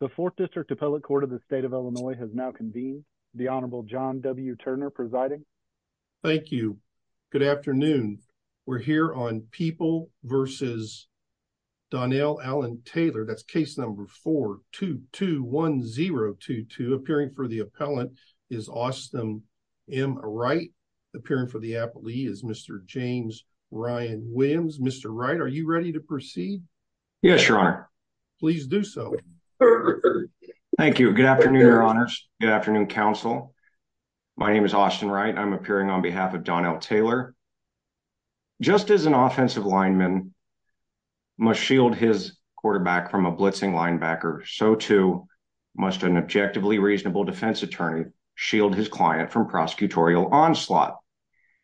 The Fourth District Appellate Court of the State of Illinois has now convened. The Honorable John W. Turner presiding. Thank you. Good afternoon. We're here on People v. Donnell Alan Taylor. That's case number 4-2-2-1-0-2-2. Appearing for the appellant is Austin M. Wright. Appearing for the appellee is Mr. James Ryan Williams. Mr. Wright, are you ready to proceed? Yes, Your Honor. Please do so. Thank you. Good afternoon, Your Honors. Good afternoon, counsel. My name is Austin Wright. I'm appearing on behalf of Donnell Taylor. Just as an offensive lineman must shield his quarterback from a blitzing linebacker, so too must an objectively reasonable defense attorney shield his client from prosecutorial onslaught.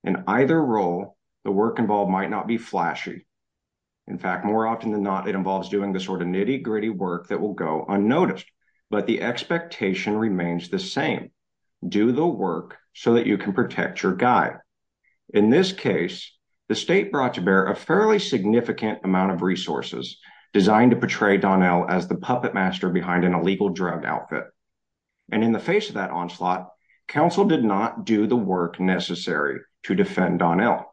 In either role, the work involved might not be flashy. In fact, more often than not, it involves doing the sort of nitty-gritty work that will go unnoticed. But the expectation remains the same. Do the work so that you can protect your guy. In this case, the state brought to bear a fairly significant amount of resources designed to portray Donnell as the puppet master behind an illegal drug outfit. And in the face of that onslaught, counsel did not do the work necessary to defend Donnell.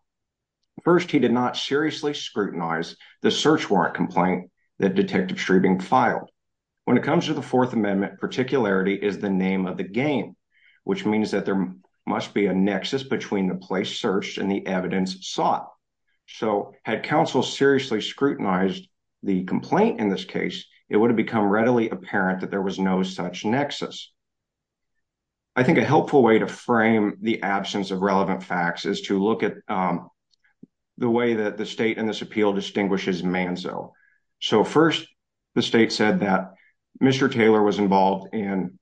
First, he did not seriously scrutinize the search warrant complaint that Detective Schrebing filed. When it comes to the Fourth Amendment, particularity is the name of the game, which means that there must be a nexus between the place searched and the evidence sought. So had counsel seriously scrutinized the complaint in this case, it would have become apparent that there was no such nexus. I think a helpful way to frame the absence of relevant facts is to look at the way that the state in this appeal distinguishes Manzo. So first, the state said that Mr. Taylor was involved in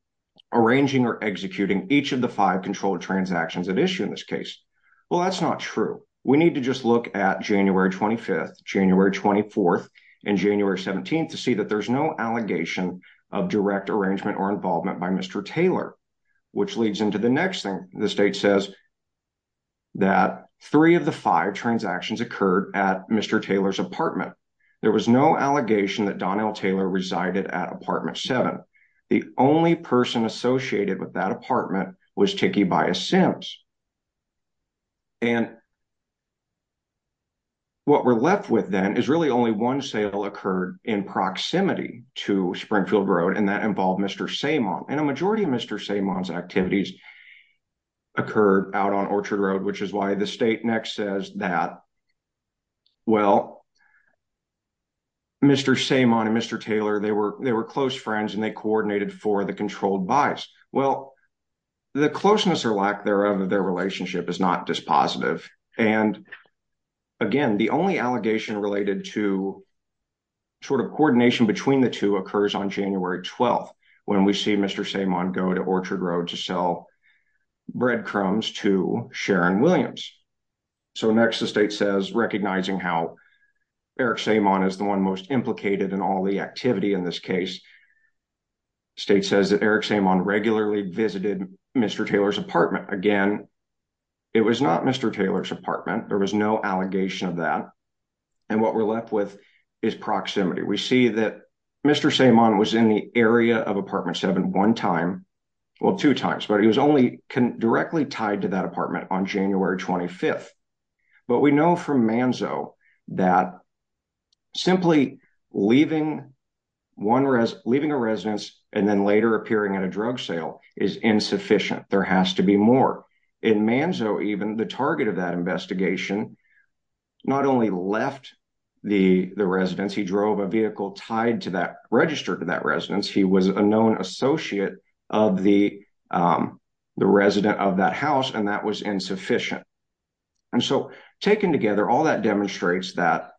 arranging or executing each of the five controlled transactions at issue in this case. Well, that's not true. We need to just look at January 25th, January 24th, and January 17th to see that there's no allegation of direct arrangement or involvement by Mr. Taylor, which leads into the next thing. The state says that three of the five transactions occurred at Mr. Taylor's apartment. There was no allegation that Donnell Taylor resided at apartment seven. The only person associated with that apartment was Tiki Bias Sims. And what we're left with then is really only one sale occurred in proximity to Springfield Road, and that involved Mr. Samon. And a majority of Mr. Samon's activities occurred out on Orchard Road, which is why the state next says that, well, Mr. Samon and Mr. Taylor, they were close friends and they coordinated for the controlled buys. Well, the closeness or lack thereof of their relationship is not dispositive. And again, the only allegation related to sort of coordination between the two occurs on January 12th, when we see Mr. Samon go to Orchard Road to sell breadcrumbs to Sharon Williams. So next, the state says, recognizing how Eric Samon is the one most implicated in all the activity in this case, the state says that Eric Samon regularly visited Mr. Taylor's apartment. Again, it was not Mr. Taylor's apartment. There was no allegation of that. And what we're left with is proximity. We see that Mr. Samon was in the area of apartment seven one time, well, two times, but he was only directly tied to that apartment on January 25th. But we know from Manzo that simply leaving a residence and then later appearing at a drug sale is insufficient. There has to be more. In Manzo, even the target of that investigation not only left the residence, he drove a vehicle tied to that, registered to that residence. He was a known associate of the resident of that house, and that was insufficient. And so taken together, all that demonstrates that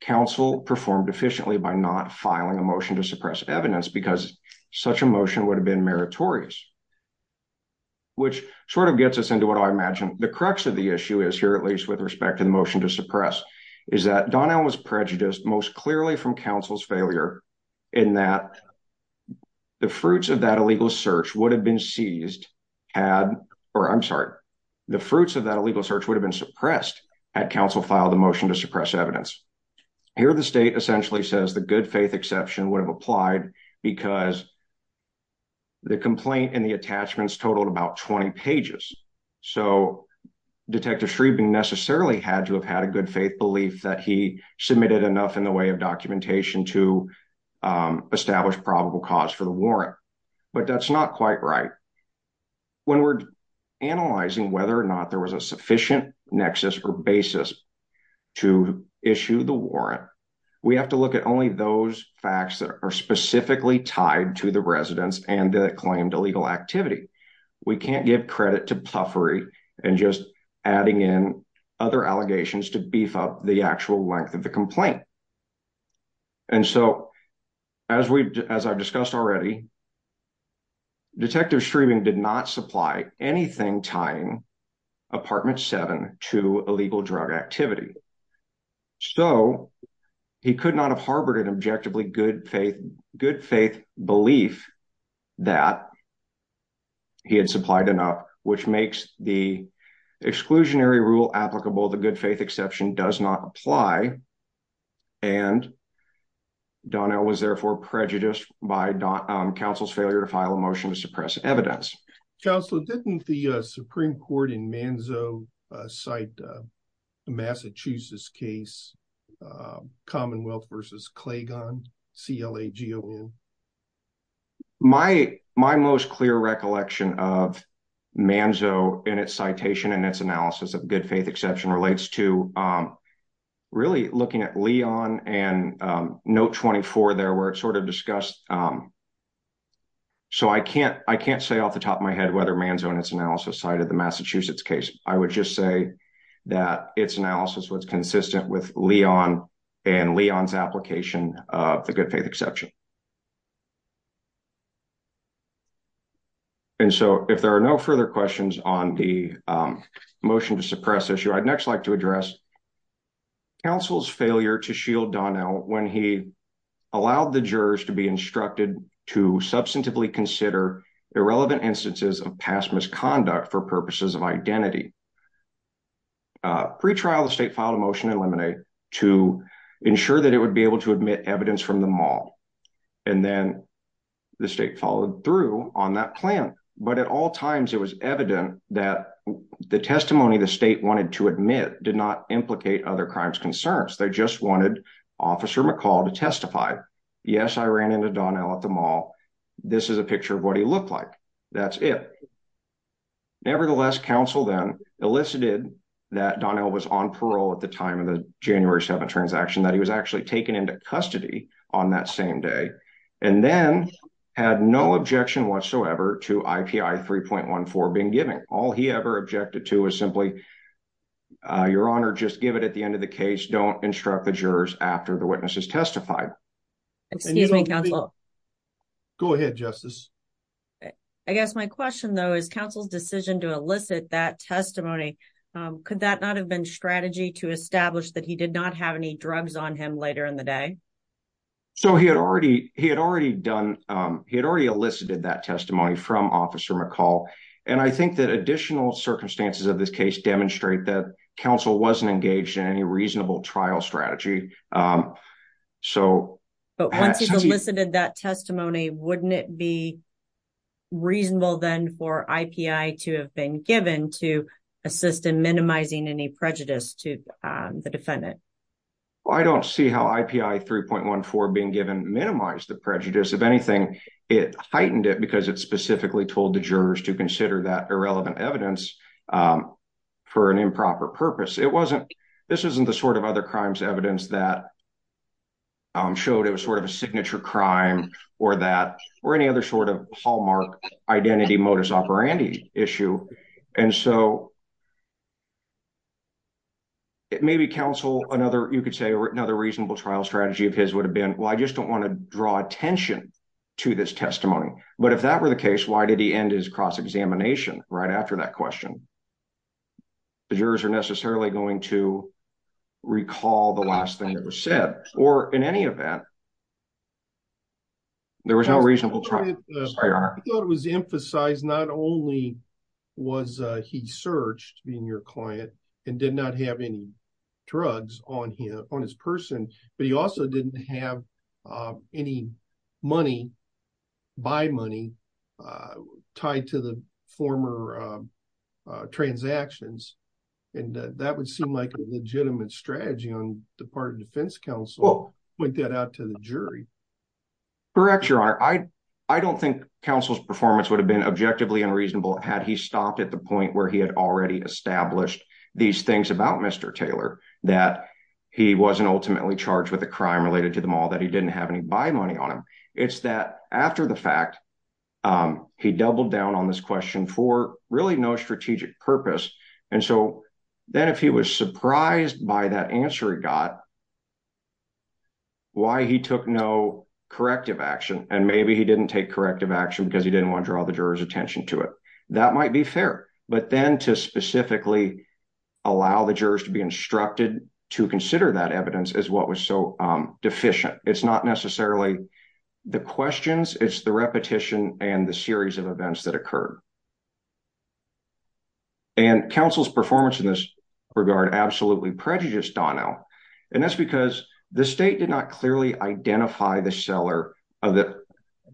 council performed efficiently by not filing a motion to suppress evidence because such a motion would have been meritorious. Which sort of gets us into what I imagine the crux of the issue is here, at least with respect to the motion to suppress, is that Donnell was prejudiced most clearly from council's failure in that the fruits of that illegal search would have been seized had, or I'm sorry, the fruits of that illegal search would have been suppressed had council filed the motion to suppress evidence. Here the state essentially says the good faith exception would have applied because the complaint and the attachments totaled about 20 pages. So Detective Shreveman necessarily had to have had a good faith belief that he submitted enough in the way of documentation to establish probable cause for the warrant. But that's not quite right. When we're analyzing whether or not there was a sufficient nexus or basis to issue the warrant, we have to look at only those facts that are specifically tied to the residence and the illegal activity. We can't give credit to puffery and just adding in other allegations to beef up the actual length of the complaint. And so, as I've discussed already, Detective Shreveman did not supply anything tying Apartment 7 to illegal drug activity. So he could not have harbored an good faith belief that he had supplied enough, which makes the exclusionary rule applicable. The good faith exception does not apply. And Donnell was therefore prejudiced by council's failure to file a motion to suppress evidence. Counselor, didn't the Supreme Court in Manzo cite the Massachusetts case, Commonwealth v. Clagon, C-L-A-G-O-N? My most clear recollection of Manzo in its citation and its analysis of good faith exception relates to really looking at Leon and note 24 there where it sort of discussed. So I can't say off the top of my head whether Manzo in its analysis cited the Massachusetts case. I would just say that its analysis was consistent with Leon and Leon's application of the good faith exception. And so, if there are no further questions on the motion to suppress issue, I'd next like to address counsel's failure to shield Donnell when he allowed the jurors to be instructed to substantively consider irrelevant instances of past misconduct for purposes of identity. Pre-trial, the state filed a motion to eliminate to ensure that it would be able to admit evidence from the mall. And then the state followed through on that plan. But at all times, it was evident that the testimony the state wanted to admit did not implicate other crimes concerns. They just wanted Officer McCall to testify. Yes, I ran into Donnell at the mall. This is a picture of what he looked like. That's it. Nevertheless, counsel then elicited that Donnell was on parole at the time of the January 7th transaction that he was actually taken into custody on that same day and then had no objection whatsoever to IPI 3.14 being given. All he ever objected to was simply your honor, just give it at the end of the case. Don't instruct the jurors after the witnesses testified. Excuse me, counsel. Go ahead, justice. I guess my question though is counsel's decision to elicit that testimony. Could that not have been strategy to establish that he did not have any drugs on him later in the day? So, he had already elicited that testimony from counsel. But once he elicited that testimony, wouldn't it be reasonable then for IPI 3.14 to have been given to assist in minimizing any prejudice to the defendant? I don't see how IPI 3.14 being given minimize the prejudice. If anything, it heightened it because it specifically told the jurors to consider that irrelevant evidence for an improper purpose. It wasn't, this isn't the sort of other crimes evidence that showed it was sort of a signature crime or that or any other sort of hallmark identity modus operandi issue. And so, it may be counsel another, you could say another reasonable trial strategy of his would have been, well, I just don't want to draw attention to this testimony. But if that were the case, why did he end his cross-examination right after that question? The jurors are necessarily going to recall the last thing that was said or in any event, there was no reasonable trial. I thought it was emphasized not only was he searched in your client and did not have any drugs on his person, but he also didn't have any money, buy money tied to the former transactions. And that would seem like a legitimate strategy on the part of defense counsel, point that out to the jury. Correct, your honor. I don't think counsel's performance would have been objectively unreasonable had he stopped at the point where he had already established these things about Mr. that he wasn't ultimately charged with a crime related to the mall, that he didn't have any buy money on him. It's that after the fact, he doubled down on this question for really no strategic purpose. And so then if he was surprised by that answer, he got why he took no corrective action. And maybe he didn't take corrective action because he didn't want to draw the juror's attention to it. That might be fair, but then to specifically allow the jurors to be instructed to consider that evidence is what was so deficient. It's not necessarily the questions, it's the repetition and the series of events that occurred. And counsel's performance in this regard, absolutely prejudiced Donnell. And that's because the state did not clearly identify the seller of it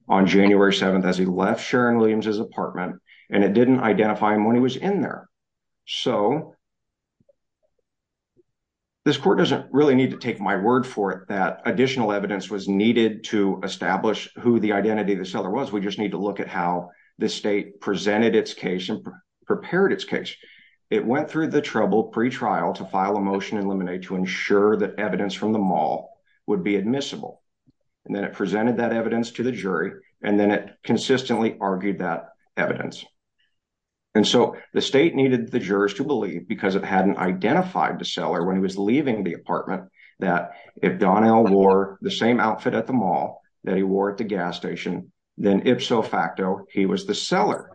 on January 7th, as he left Sharon Williams's apartment, and it didn't identify him when he was in there. So this court doesn't really need to take my word for it, that additional evidence was needed to establish who the identity of the seller was. We just need to look at how the state presented its case and prepared its case. It went through the trouble pretrial to file a motion and eliminate to ensure that evidence from the mall would be admissible. And then it presented that evidence to the jury, and then it consistently argued that evidence. And so the state needed the jurors to believe because it hadn't identified the seller when he was leaving the apartment, that if Donnell wore the same outfit at the mall that he wore at the gas station, then ipso facto, he was the seller.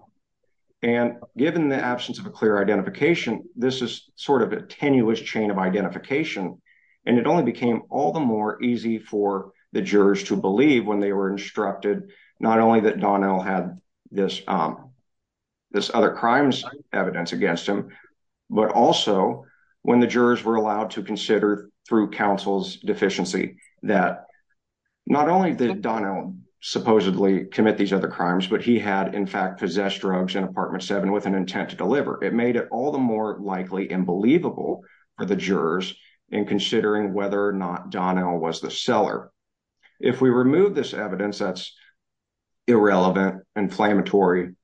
And given the absence of a clear identification, this is sort of a tenuous chain of identification. And it only became all the more easy for the jurors to believe when they were instructed, not only that Donnell had this other crimes evidence against him, but also when the jurors were allowed to consider through counsel's deficiency that not only did Donnell supposedly commit these other crimes, but he had in fact possessed drugs in apartment seven with an intent to deliver. It made it all the more likely and believable for the jurors in considering whether or not Donnell was the seller. If we remove this evidence that's irrelevant, inflammatory,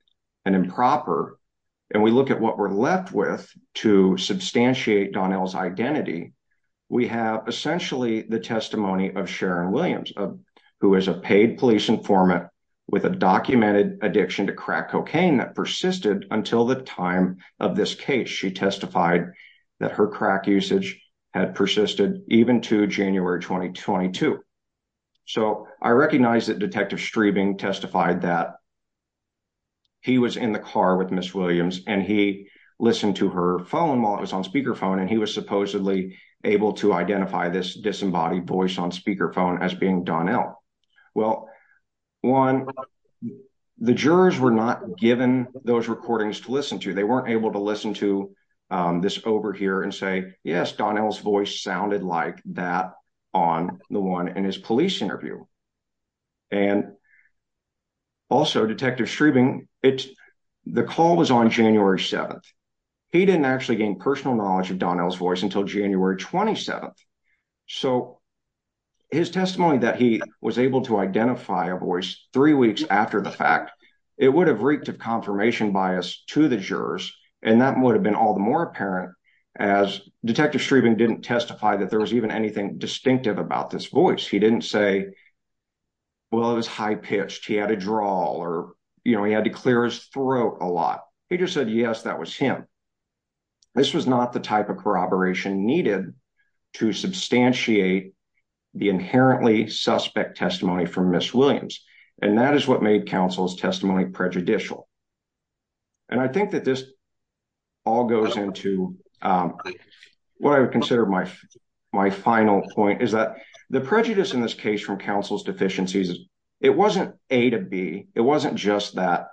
and improper, and we look at what we're left with to substantiate Donnell's identity, we have essentially the testimony of Sharon Williams, who is a paid police informant with a documented addiction to crack cocaine that persisted until the time of this case. She testified that her crack usage had persisted even to January 2022. So I recognize that Detective Streebing testified that he was in the car with Ms. Williams and he listened to her phone while it was on speakerphone and he was supposedly able to identify this disembodied voice on speakerphone as being Donnell. Well, one, the jurors were not given those recordings to listen to. They weren't able to listen to this over here and say, yes, Donnell's voice sounded like that on the one in his police interview. And also Detective Streebing, the call was on January 7th. He didn't actually gain personal knowledge of Donnell's voice until January 27th. So his testimony that he was able to identify a voice three weeks after the fact, it would have reaped of confirmation bias to the jurors. And that would have been all the more apparent as Detective Streebing didn't testify that there was even anything distinctive about this voice. He didn't say, well, it was high pitched. He had a drawl or, you know, he had to clear his throat a lot. He just said, yes, that was him. This was not the type of corroboration needed to substantiate the inherently suspect testimony from Ms. Williams. And that is what made counsel's testimony prejudicial. And I think that this all goes into what I would consider my final point is that the prejudice in this case from counsel's deficiencies, it wasn't A to B. It wasn't just that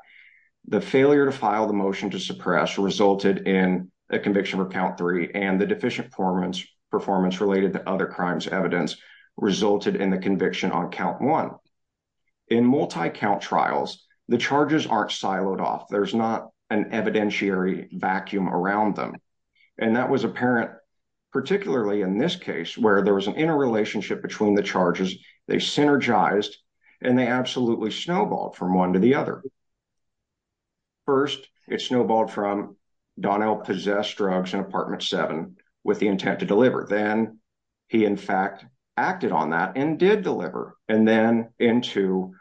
the failure to file the motion to suppress resulted in a conviction of count three and the deficient performance performance related to other crimes evidence resulted in the conviction on count one. In multi-count trials, the charges aren't siloed off. There's not an evidentiary vacuum around them. And that was apparent, particularly in this case where there was an interrelationship between the charges. They synergized and they absolutely snowballed from one to the other. First, it snowballed from Donnell possessed drugs in apartment seven with the intent to deliver. Then he in fact acted on that and did deliver. And then into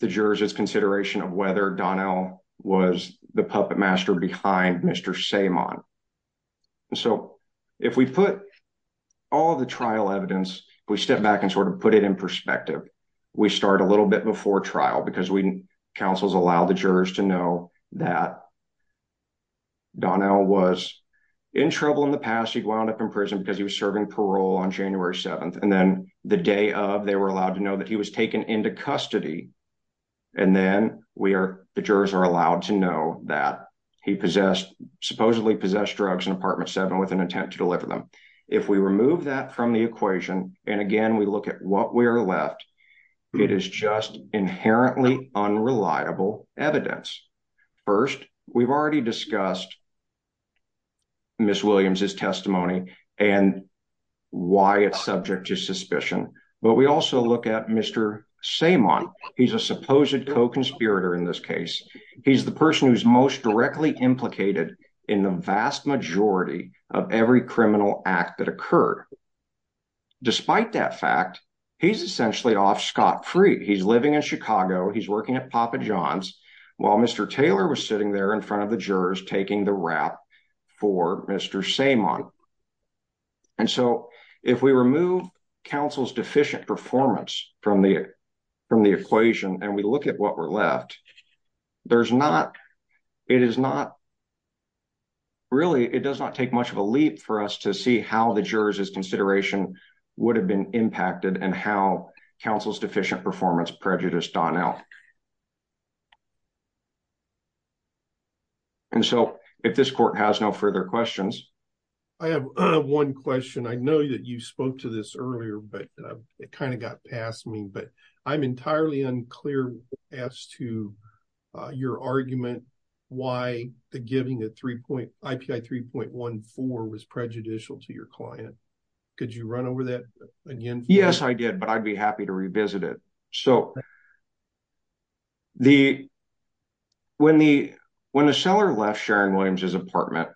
the jurors' consideration of whether Donnell was the puppet master behind Mr. Saimon. So if we put all the trial evidence, we step back and sort of put it in perspective. We start a little bit before trial because we counsels allow the jurors to know that Donnell was in trouble in the past. He'd wound up in prison because he was serving parole on January 7th. And then the day of they were allowed to know that he was taken into custody. And then we are, the jurors are allowed to know that he possessed supposedly possessed drugs in apartment seven with an intent to deliver them. If we remove that from the equation, and again, we look at what we are left, it is just inherently unreliable evidence. First, we've already discussed Ms. Williams' testimony and why it's subject to suspicion. But we also look at Mr. Saimon. He's a supposed co-conspirator in this case. He's the person who's most directly implicated in the vast majority of every criminal act that happened. Despite that fact, he's essentially off scot-free. He's living in Chicago. He's working at Papa John's while Mr. Taylor was sitting there in front of the jurors, taking the rap for Mr. Saimon. And so if we remove counsel's deficient performance from the equation and we look at what we're left, there's not, it is not really, it does not take much of a leap for us to see how the jurors' consideration would have been impacted and how counsel's deficient performance prejudiced Donnell. And so if this court has no further questions. I have one question. I know that you spoke to this earlier, but it kind of got past me, I'm entirely unclear as to your argument, why the giving of 3.14 was prejudicial to your client. Could you run over that again? Yes, I did, but I'd be happy to revisit it. So the, when the, when the seller left Sharon Williams' apartment,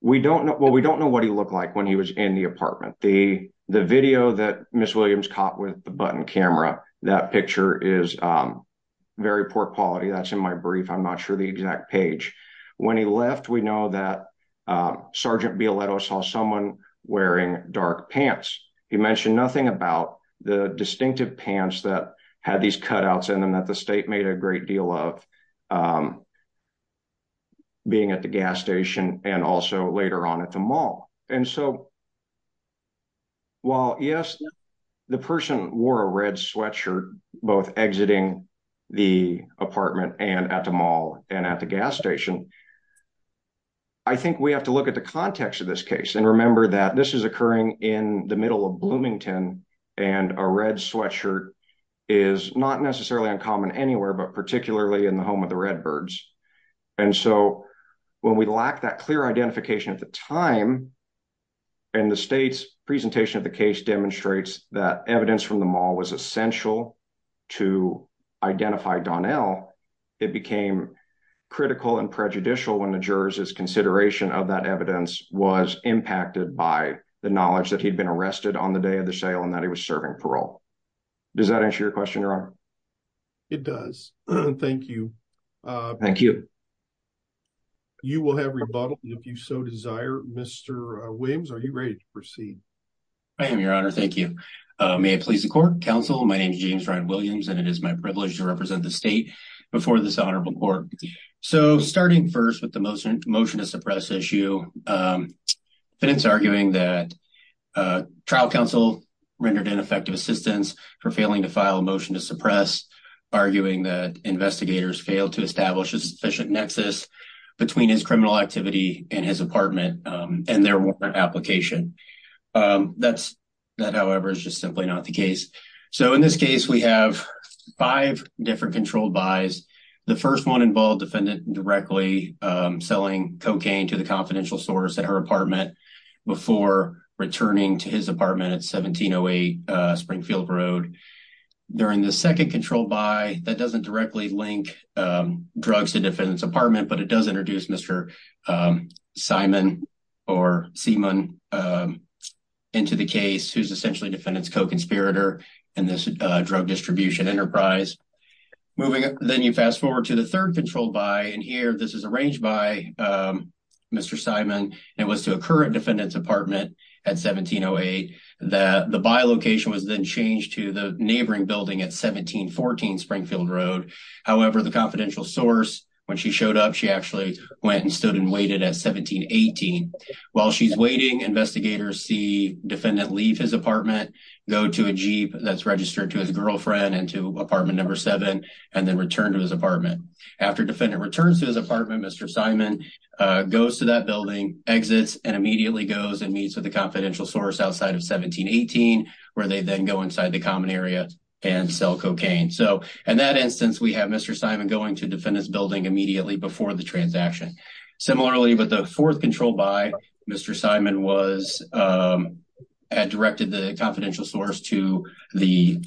we don't know, well, we don't know what he looked like when he was in the apartment. The video that Ms. Williams caught with the button camera, that picture is very poor quality. That's in my brief. I'm not sure the exact page. When he left, we know that Sergeant Bialetto saw someone wearing dark pants. He mentioned nothing about the distinctive pants that had these cutouts in them that the state made a great deal of being at the gas station and also later on at the mall. And so while yes, the person wore a red sweatshirt, both exiting the apartment and at the mall and at the gas station, I think we have to look at the context of this case and remember that this is occurring in the middle of Bloomington and a red sweatshirt is not necessarily uncommon anywhere, but particularly in the home of the Redbirds. And so when we lack that clear identification at the time, and the state's presentation of the case demonstrates that evidence from the mall was essential to identify Donnell, it became critical and prejudicial when the jurors' consideration of that evidence was impacted by the knowledge that he'd been arrested on the day of the sale and that he was serving parole. Does that answer your question, Your Honor? It does. Thank you. Thank you. You will have rebuttal if you so desire. Mr. Williams, are you ready to proceed? I am, Your Honor. Thank you. May it please the court. Counsel, my name is James Ryan Williams, and it is my privilege to represent the state before this honorable court. So starting first with the motion to suppress issue, it's arguing that trial counsel rendered ineffective assistance for failing to file a motion to suppress, arguing that investigators failed to establish a sufficient nexus between his criminal activity and his apartment and their warrant application. That's that, however, is just simply not the case. So in this case, we have five different controlled buys. The first one involved defendant directly selling cocaine to the confidential source at her apartment before returning to his apartment at 1708 Springfield Road. During the second controlled buy, that doesn't directly link drugs to defendant's apartment, but it does introduce Mr. Simon or Seaman into the case, who's essentially defendant's co-conspirator in this drug distribution enterprise. Moving up, then you fast forward to the third controlled buy, and here this is arranged by Mr. Simon, and it was to a current defendant's apartment at 1708. The buy location was then changed to the neighboring building at 1714 Springfield Road. However, the confidential source, when she showed up, she actually went and stood and waited at 1718. While she's waiting, investigators see defendant leave his apartment, go to a jeep that's registered to his girlfriend and to apartment number seven, and then return to his apartment. After defendant returns to his apartment, Mr. Simon goes to that building, exits, and immediately goes and meets with the confidential source outside of 1718, where they then go inside the common area and sell cocaine. So in that instance, we have Mr. Simon going to defendant's building immediately before the transaction. Similarly, but the fourth controlled buy, Mr. Simon had directed the confidential source to the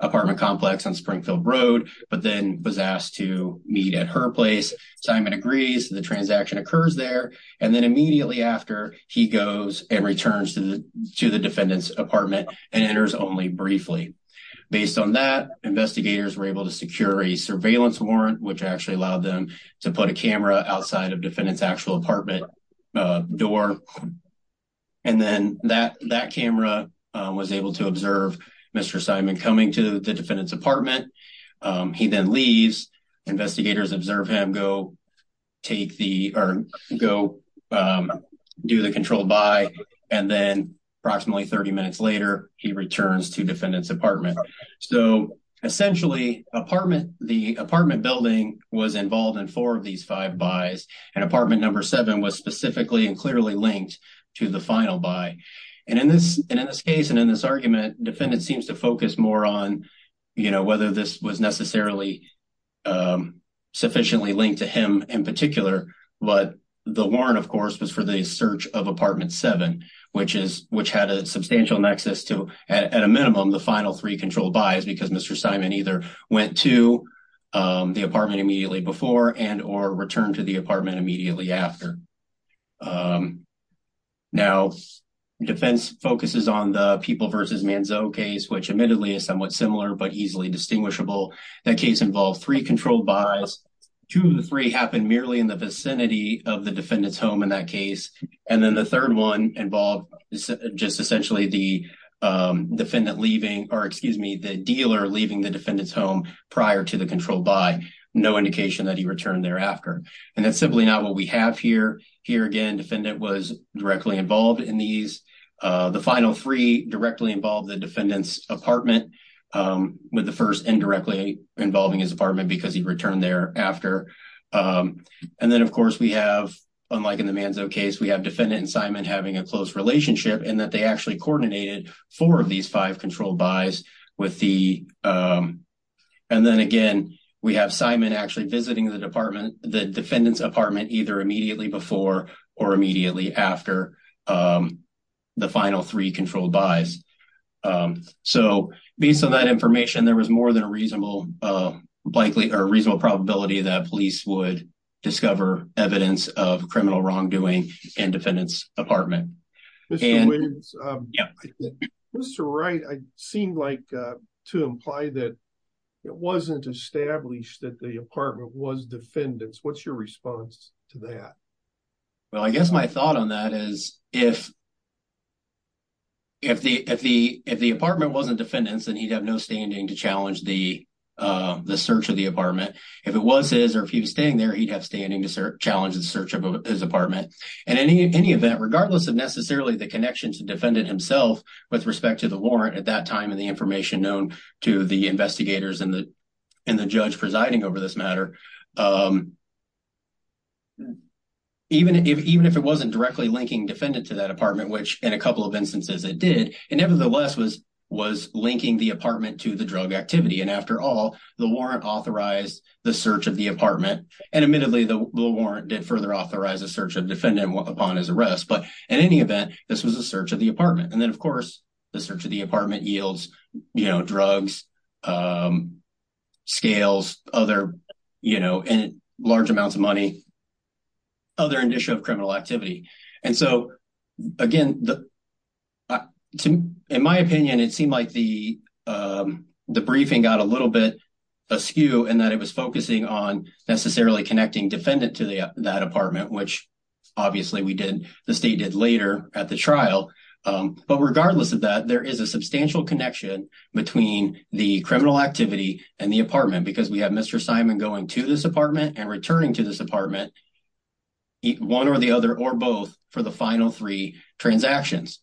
apartment complex on Springfield Road, but then was asked to meet at her place. Simon agrees, the transaction occurs there, and then immediately after, he goes and returns to the defendant's apartment and enters only briefly. Based on that, investigators were able to secure a surveillance warrant, which actually allowed them to put a camera outside of defendant's actual apartment door, and then that camera was able to observe Mr. Simon coming to the defendant's apartment. He then leaves, investigators observe him go do the controlled buy, and then approximately 30 minutes later, he returns to defendant's apartment. So essentially, the apartment building was involved in four of these five buys, and apartment number seven was specifically and clearly linked to the final buy. And in this argument, defendant seems to focus more on, you know, whether this was necessarily sufficiently linked to him in particular, but the warrant, of course, was for the search of apartment seven, which had a substantial nexus to, at a minimum, the final three controlled buys, because Mr. Simon either went to the apartment immediately before and or returned to the case, which admittedly is somewhat similar but easily distinguishable. That case involved three controlled buys. Two of the three happened merely in the vicinity of the defendant's home in that case, and then the third one involved just essentially the defendant leaving, or excuse me, the dealer leaving the defendant's home prior to the controlled buy, no indication that he returned thereafter. And that's simply not what we have here. Here again, defendant was directly involved in these. The final three directly involved the defendant's apartment, with the first indirectly involving his apartment because he returned there after. And then, of course, we have, unlike in the Manzo case, we have defendant and Simon having a close relationship in that they actually coordinated four of these five controlled buys with the, and then again, we have Simon actually visiting the department, the defendant's apartment, either immediately before or immediately after the final three controlled buys. So, based on that information, there was more than a reasonable probability that police would discover evidence of criminal wrongdoing in defendant's apartment. Mr. Wright, it seemed like to imply that it wasn't established that the apartment was defendant's. What's your response to that? Well, I guess my thought on that is if the apartment wasn't defendant's, then he'd have no standing to challenge the search of the apartment. If it was his or if he was staying there, he'd have standing to challenge the search of his apartment. And in any event, regardless of necessarily the connection to defendant himself with respect to the warrant at that time and the information known to the department, even if it wasn't directly linking defendant to that apartment, which in a couple of instances it did, it nevertheless was linking the apartment to the drug activity. And after all, the warrant authorized the search of the apartment. And admittedly, the warrant did further authorize a search of defendant upon his arrest. But in any event, this was a search of the apartment. And then, large amounts of money, other initial criminal activity. And so, again, in my opinion, it seemed like the briefing got a little bit askew in that it was focusing on necessarily connecting defendant to that apartment, which obviously the state did later at the trial. But regardless of that, there is a substantial connection between the criminal activity and the apartment because we have Mr. Simon going to this apartment and returning to this apartment, one or the other, or both, for the final three transactions.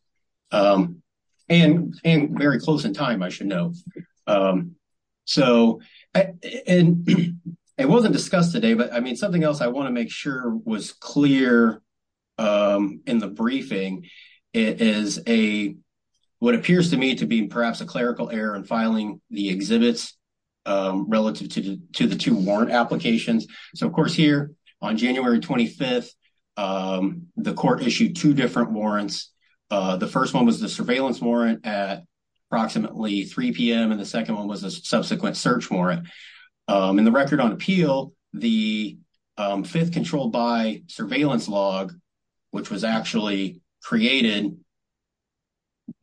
And very close in time, I should note. So, and it wasn't discussed today, but I mean, something else I want to make sure was clear in the briefing is a, what appears to me to be perhaps a clerical error in filing the exhibits relative to the two warrant applications. So, of course, here on January 25th, the court issued two different warrants. The first one was the surveillance warrant at approximately 3 p.m. And the second one was a subsequent search warrant. In the record on appeal, the fifth controlled by surveillance log, which was actually created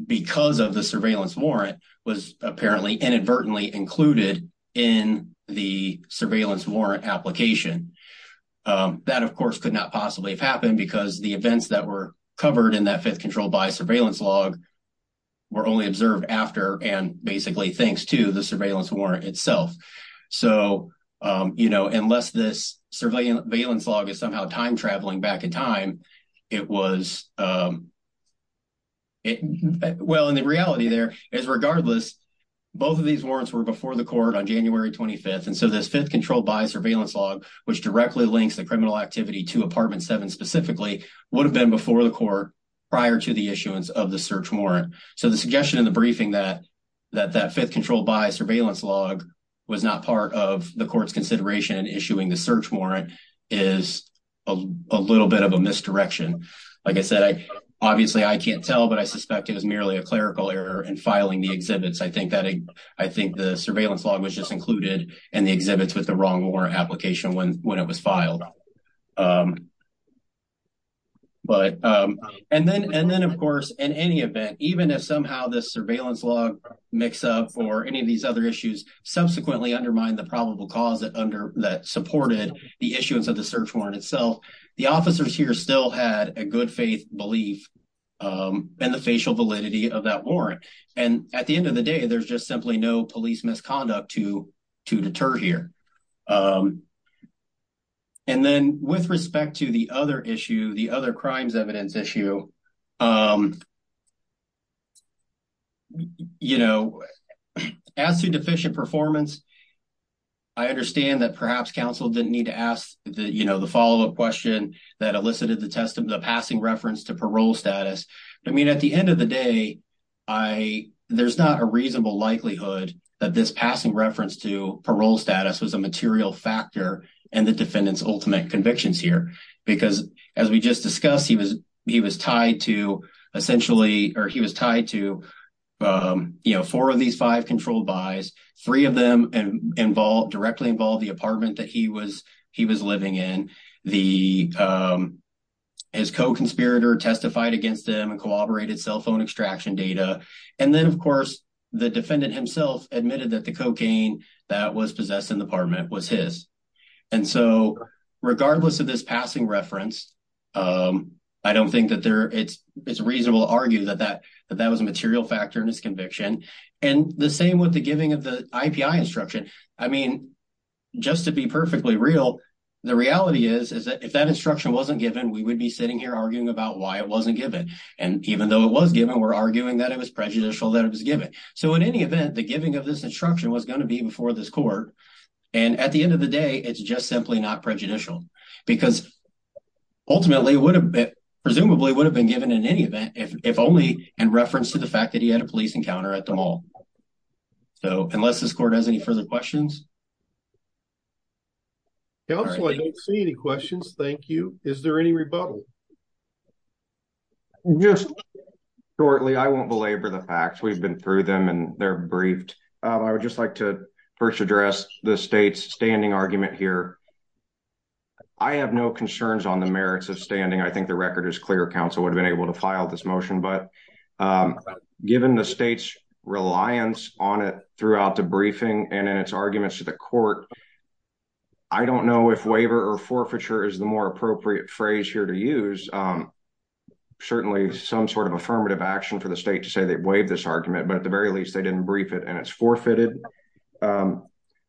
because of the surveillance warrant, was apparently inadvertently included in the surveillance warrant application. That, of course, could not possibly have happened because the events that were covered in that fifth controlled by surveillance log were only observed after and basically thanks to the surveillance warrant itself. So, you know, unless this surveillance log is somehow time traveling back in time, it was, well, and the reality there is regardless, both of these warrants were before the court on January 25th. And so, this fifth controlled by surveillance log, which directly links the criminal activity to apartment 7 specifically, would have been before the court prior to the issuance of the search warrant. So, the suggestion in the briefing that that fifth controlled by surveillance log was not part of court's consideration in issuing the search warrant is a little bit of a misdirection. Like I said, obviously, I can't tell, but I suspect it was merely a clerical error in filing the exhibits. I think the surveillance log was just included in the exhibits with the wrong warrant application when it was filed. And then, of course, in any event, even if somehow this that supported the issuance of the search warrant itself, the officers here still had a good faith belief in the facial validity of that warrant. And at the end of the day, there's just simply no police misconduct to deter here. And then with respect to the other issue, the other crimes perhaps counsel didn't need to ask the follow-up question that elicited the passing reference to parole status. I mean, at the end of the day, there's not a reasonable likelihood that this passing reference to parole status was a material factor in the defendant's ultimate convictions here. Because as we just discussed, he was tied to essentially or he was tied to four of these controlled buys. Three of them directly involved the apartment that he was living in. His co-conspirator testified against him and corroborated cell phone extraction data. And then, of course, the defendant himself admitted that the cocaine that was possessed in the apartment was his. And so regardless of this passing reference, I don't think that there is a reason to argue that that was a material factor in his conviction. And the same with the giving of the IPI instruction. I mean, just to be perfectly real, the reality is that if that instruction wasn't given, we would be sitting here arguing about why it wasn't given. And even though it was given, we're arguing that it was prejudicial that it was given. So in any event, the giving of this instruction was going to be before this court. And at the end of the day, it's just simply not prejudicial. Because ultimately, it presumably would have been given in any event, if only in reference to the fact that he had a police encounter at the mall. So unless this court has any further questions. Counsel, I don't see any questions. Thank you. Is there any rebuttal? Just shortly, I won't belabor the facts. We've been through them and they're briefed. I would just like to first address the state's standing argument here. I have no concerns on the merits of standing. I think the record is clear. Counsel would have been able to file this motion. But given the state's reliance on it throughout the briefing and in its arguments to the court, I don't know if waiver or forfeiture is the more appropriate phrase here to use. Certainly some sort of affirmative action for the state to say they waived this argument, but at the very least, they didn't brief it and it's forfeited.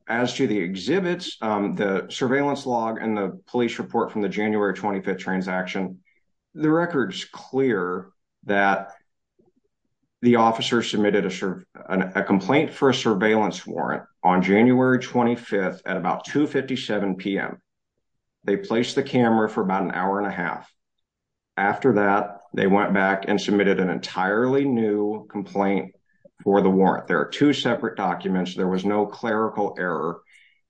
As to the exhibits, the surveillance log and the police report from the January 25th transaction, the record is clear that the officer submitted a complaint for a surveillance warrant on January 25th at about 2.57 p.m. They placed the camera for about an hour and a half. After that, they went back and submitted an entirely new complaint for the warrant. There are two separate documents. There was no clerical error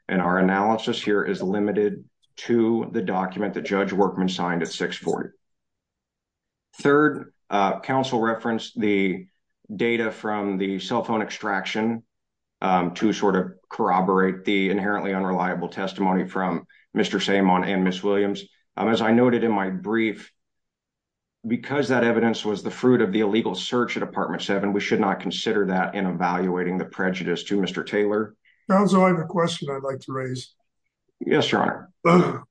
and our analysis here is limited to the document that Judge Workman signed at 6.40. Third, counsel referenced the data from the cell phone extraction to sort of corroborate the inherently unreliable testimony from Mr. Sammon and Ms. Williams. As I evidence was the fruit of the illegal search at Apartment 7, we should not consider that in evaluating the prejudice to Mr. Taylor. I have a question I'd like to raise. Yes, your honor.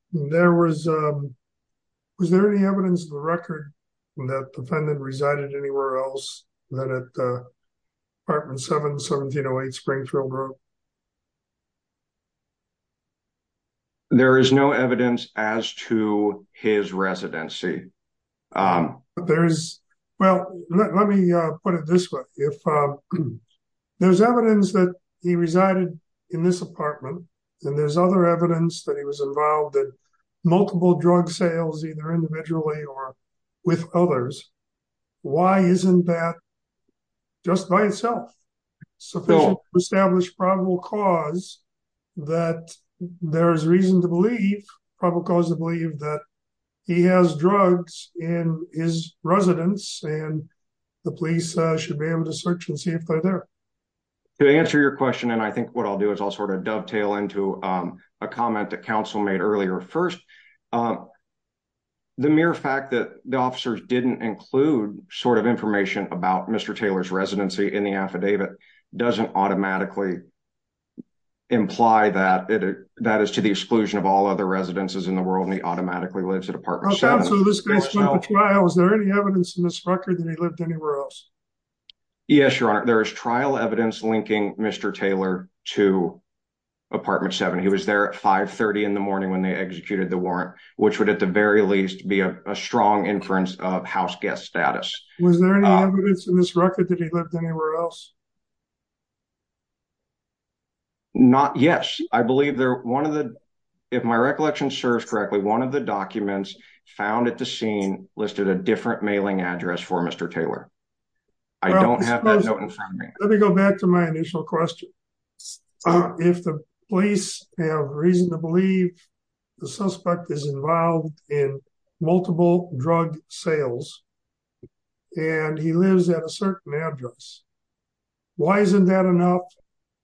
Was there any evidence in the record that the defendant resided anywhere else than at Apartment 7, 1708 Springfield Road? There is no evidence as to his residency. Well, let me put it this way. If there's evidence that he resided in this apartment and there's other evidence that he was involved in multiple drug sales, either individually or with others, why isn't that just by itself sufficient to establish probable cause that there's reason to believe, probable cause to believe, that he has drugs in his residence and the police should be able to search and see if they're there. To answer your question, and I think what I'll do is I'll sort of dovetail into a comment that counsel made earlier. First, um, the mere fact that the officers didn't include sort of information about Mr. Taylor's residency in the affidavit doesn't automatically imply that it that is to the exclusion of all other residences in the world and he automatically lives at Apartment 7. Was there any evidence in this record that he lived anywhere else? Yes, your honor. There is trial evidence linking Mr. Taylor to Apartment 7. He was there at 5 30 in the morning when they executed the warrant, which would at the very least be a strong inference of house guest status. Was there any evidence in this record that he lived anywhere else? Not, yes. I believe they're one of the, if my recollection serves correctly, one of the documents found at the scene listed a different mailing address for Mr. Taylor. I don't have that note in front of me. Let me go back to my initial question. If the police have reason to believe the suspect is involved in multiple drug sales and he lives at a certain address, why isn't that enough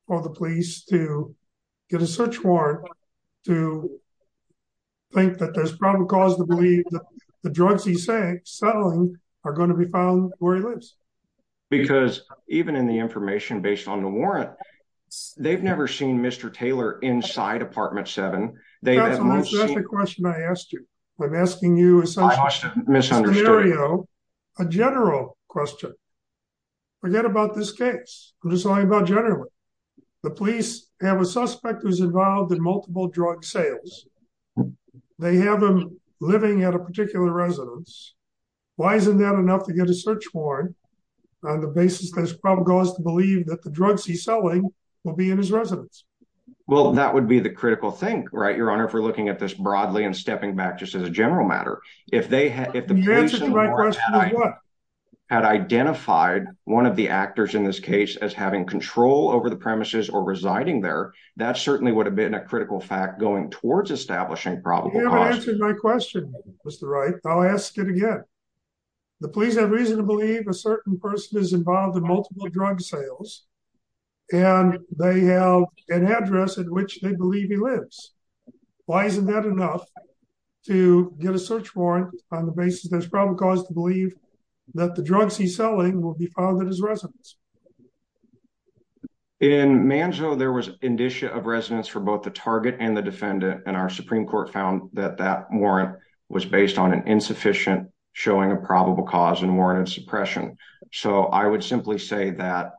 for the police to get a search warrant to think that there's probable cause to believe that the drugs he's selling are going to be found where he lives? Because even in the information based on the warrant, they've never seen Mr. Taylor inside Apartment 7. That's the question I asked you. I'm asking you a general question. Forget about this case. I'm just talking about generally. The police have a suspect who's involved in multiple drug sales. They have him living at a particular residence. Why isn't that enough to get a search warrant on the basis that there's probable cause to believe that the drugs he's selling will be in his residence? Well, that would be the critical thing, right, Your Honor, if we're looking at this broadly and stepping back just as a general matter. If the police had identified one of the actors in this case as having control over the premises or residing there, that certainly would have been a critical fact going towards establishing probable cause. You haven't answered my question, Mr. Wright. I'll ask it again. The police have reason to believe a certain person is involved in multiple drug sales and they have an address at which they believe he lives. Why isn't that enough to get a search warrant on the basis there's probable cause to believe that the drugs he's selling will be found at his residence? In Manzo, there was indicia of residence for both the target and the defendant, and our Supreme Court found that that warrant was based on an insufficient showing of probable cause and warranted suppression. So I would simply say that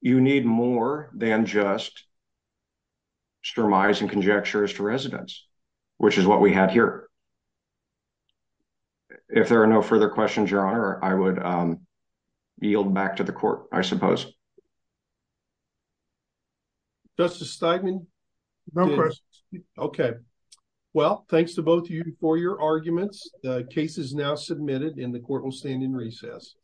you need more than just surmising conjectures to residence, which is what we had here. If there are no further questions, Your Honor, I would yield back to the court, I suppose. Justice Steinman? No questions. Okay. Well, thanks to both of you for your arguments. The case is now submitted and the court will stand in recess.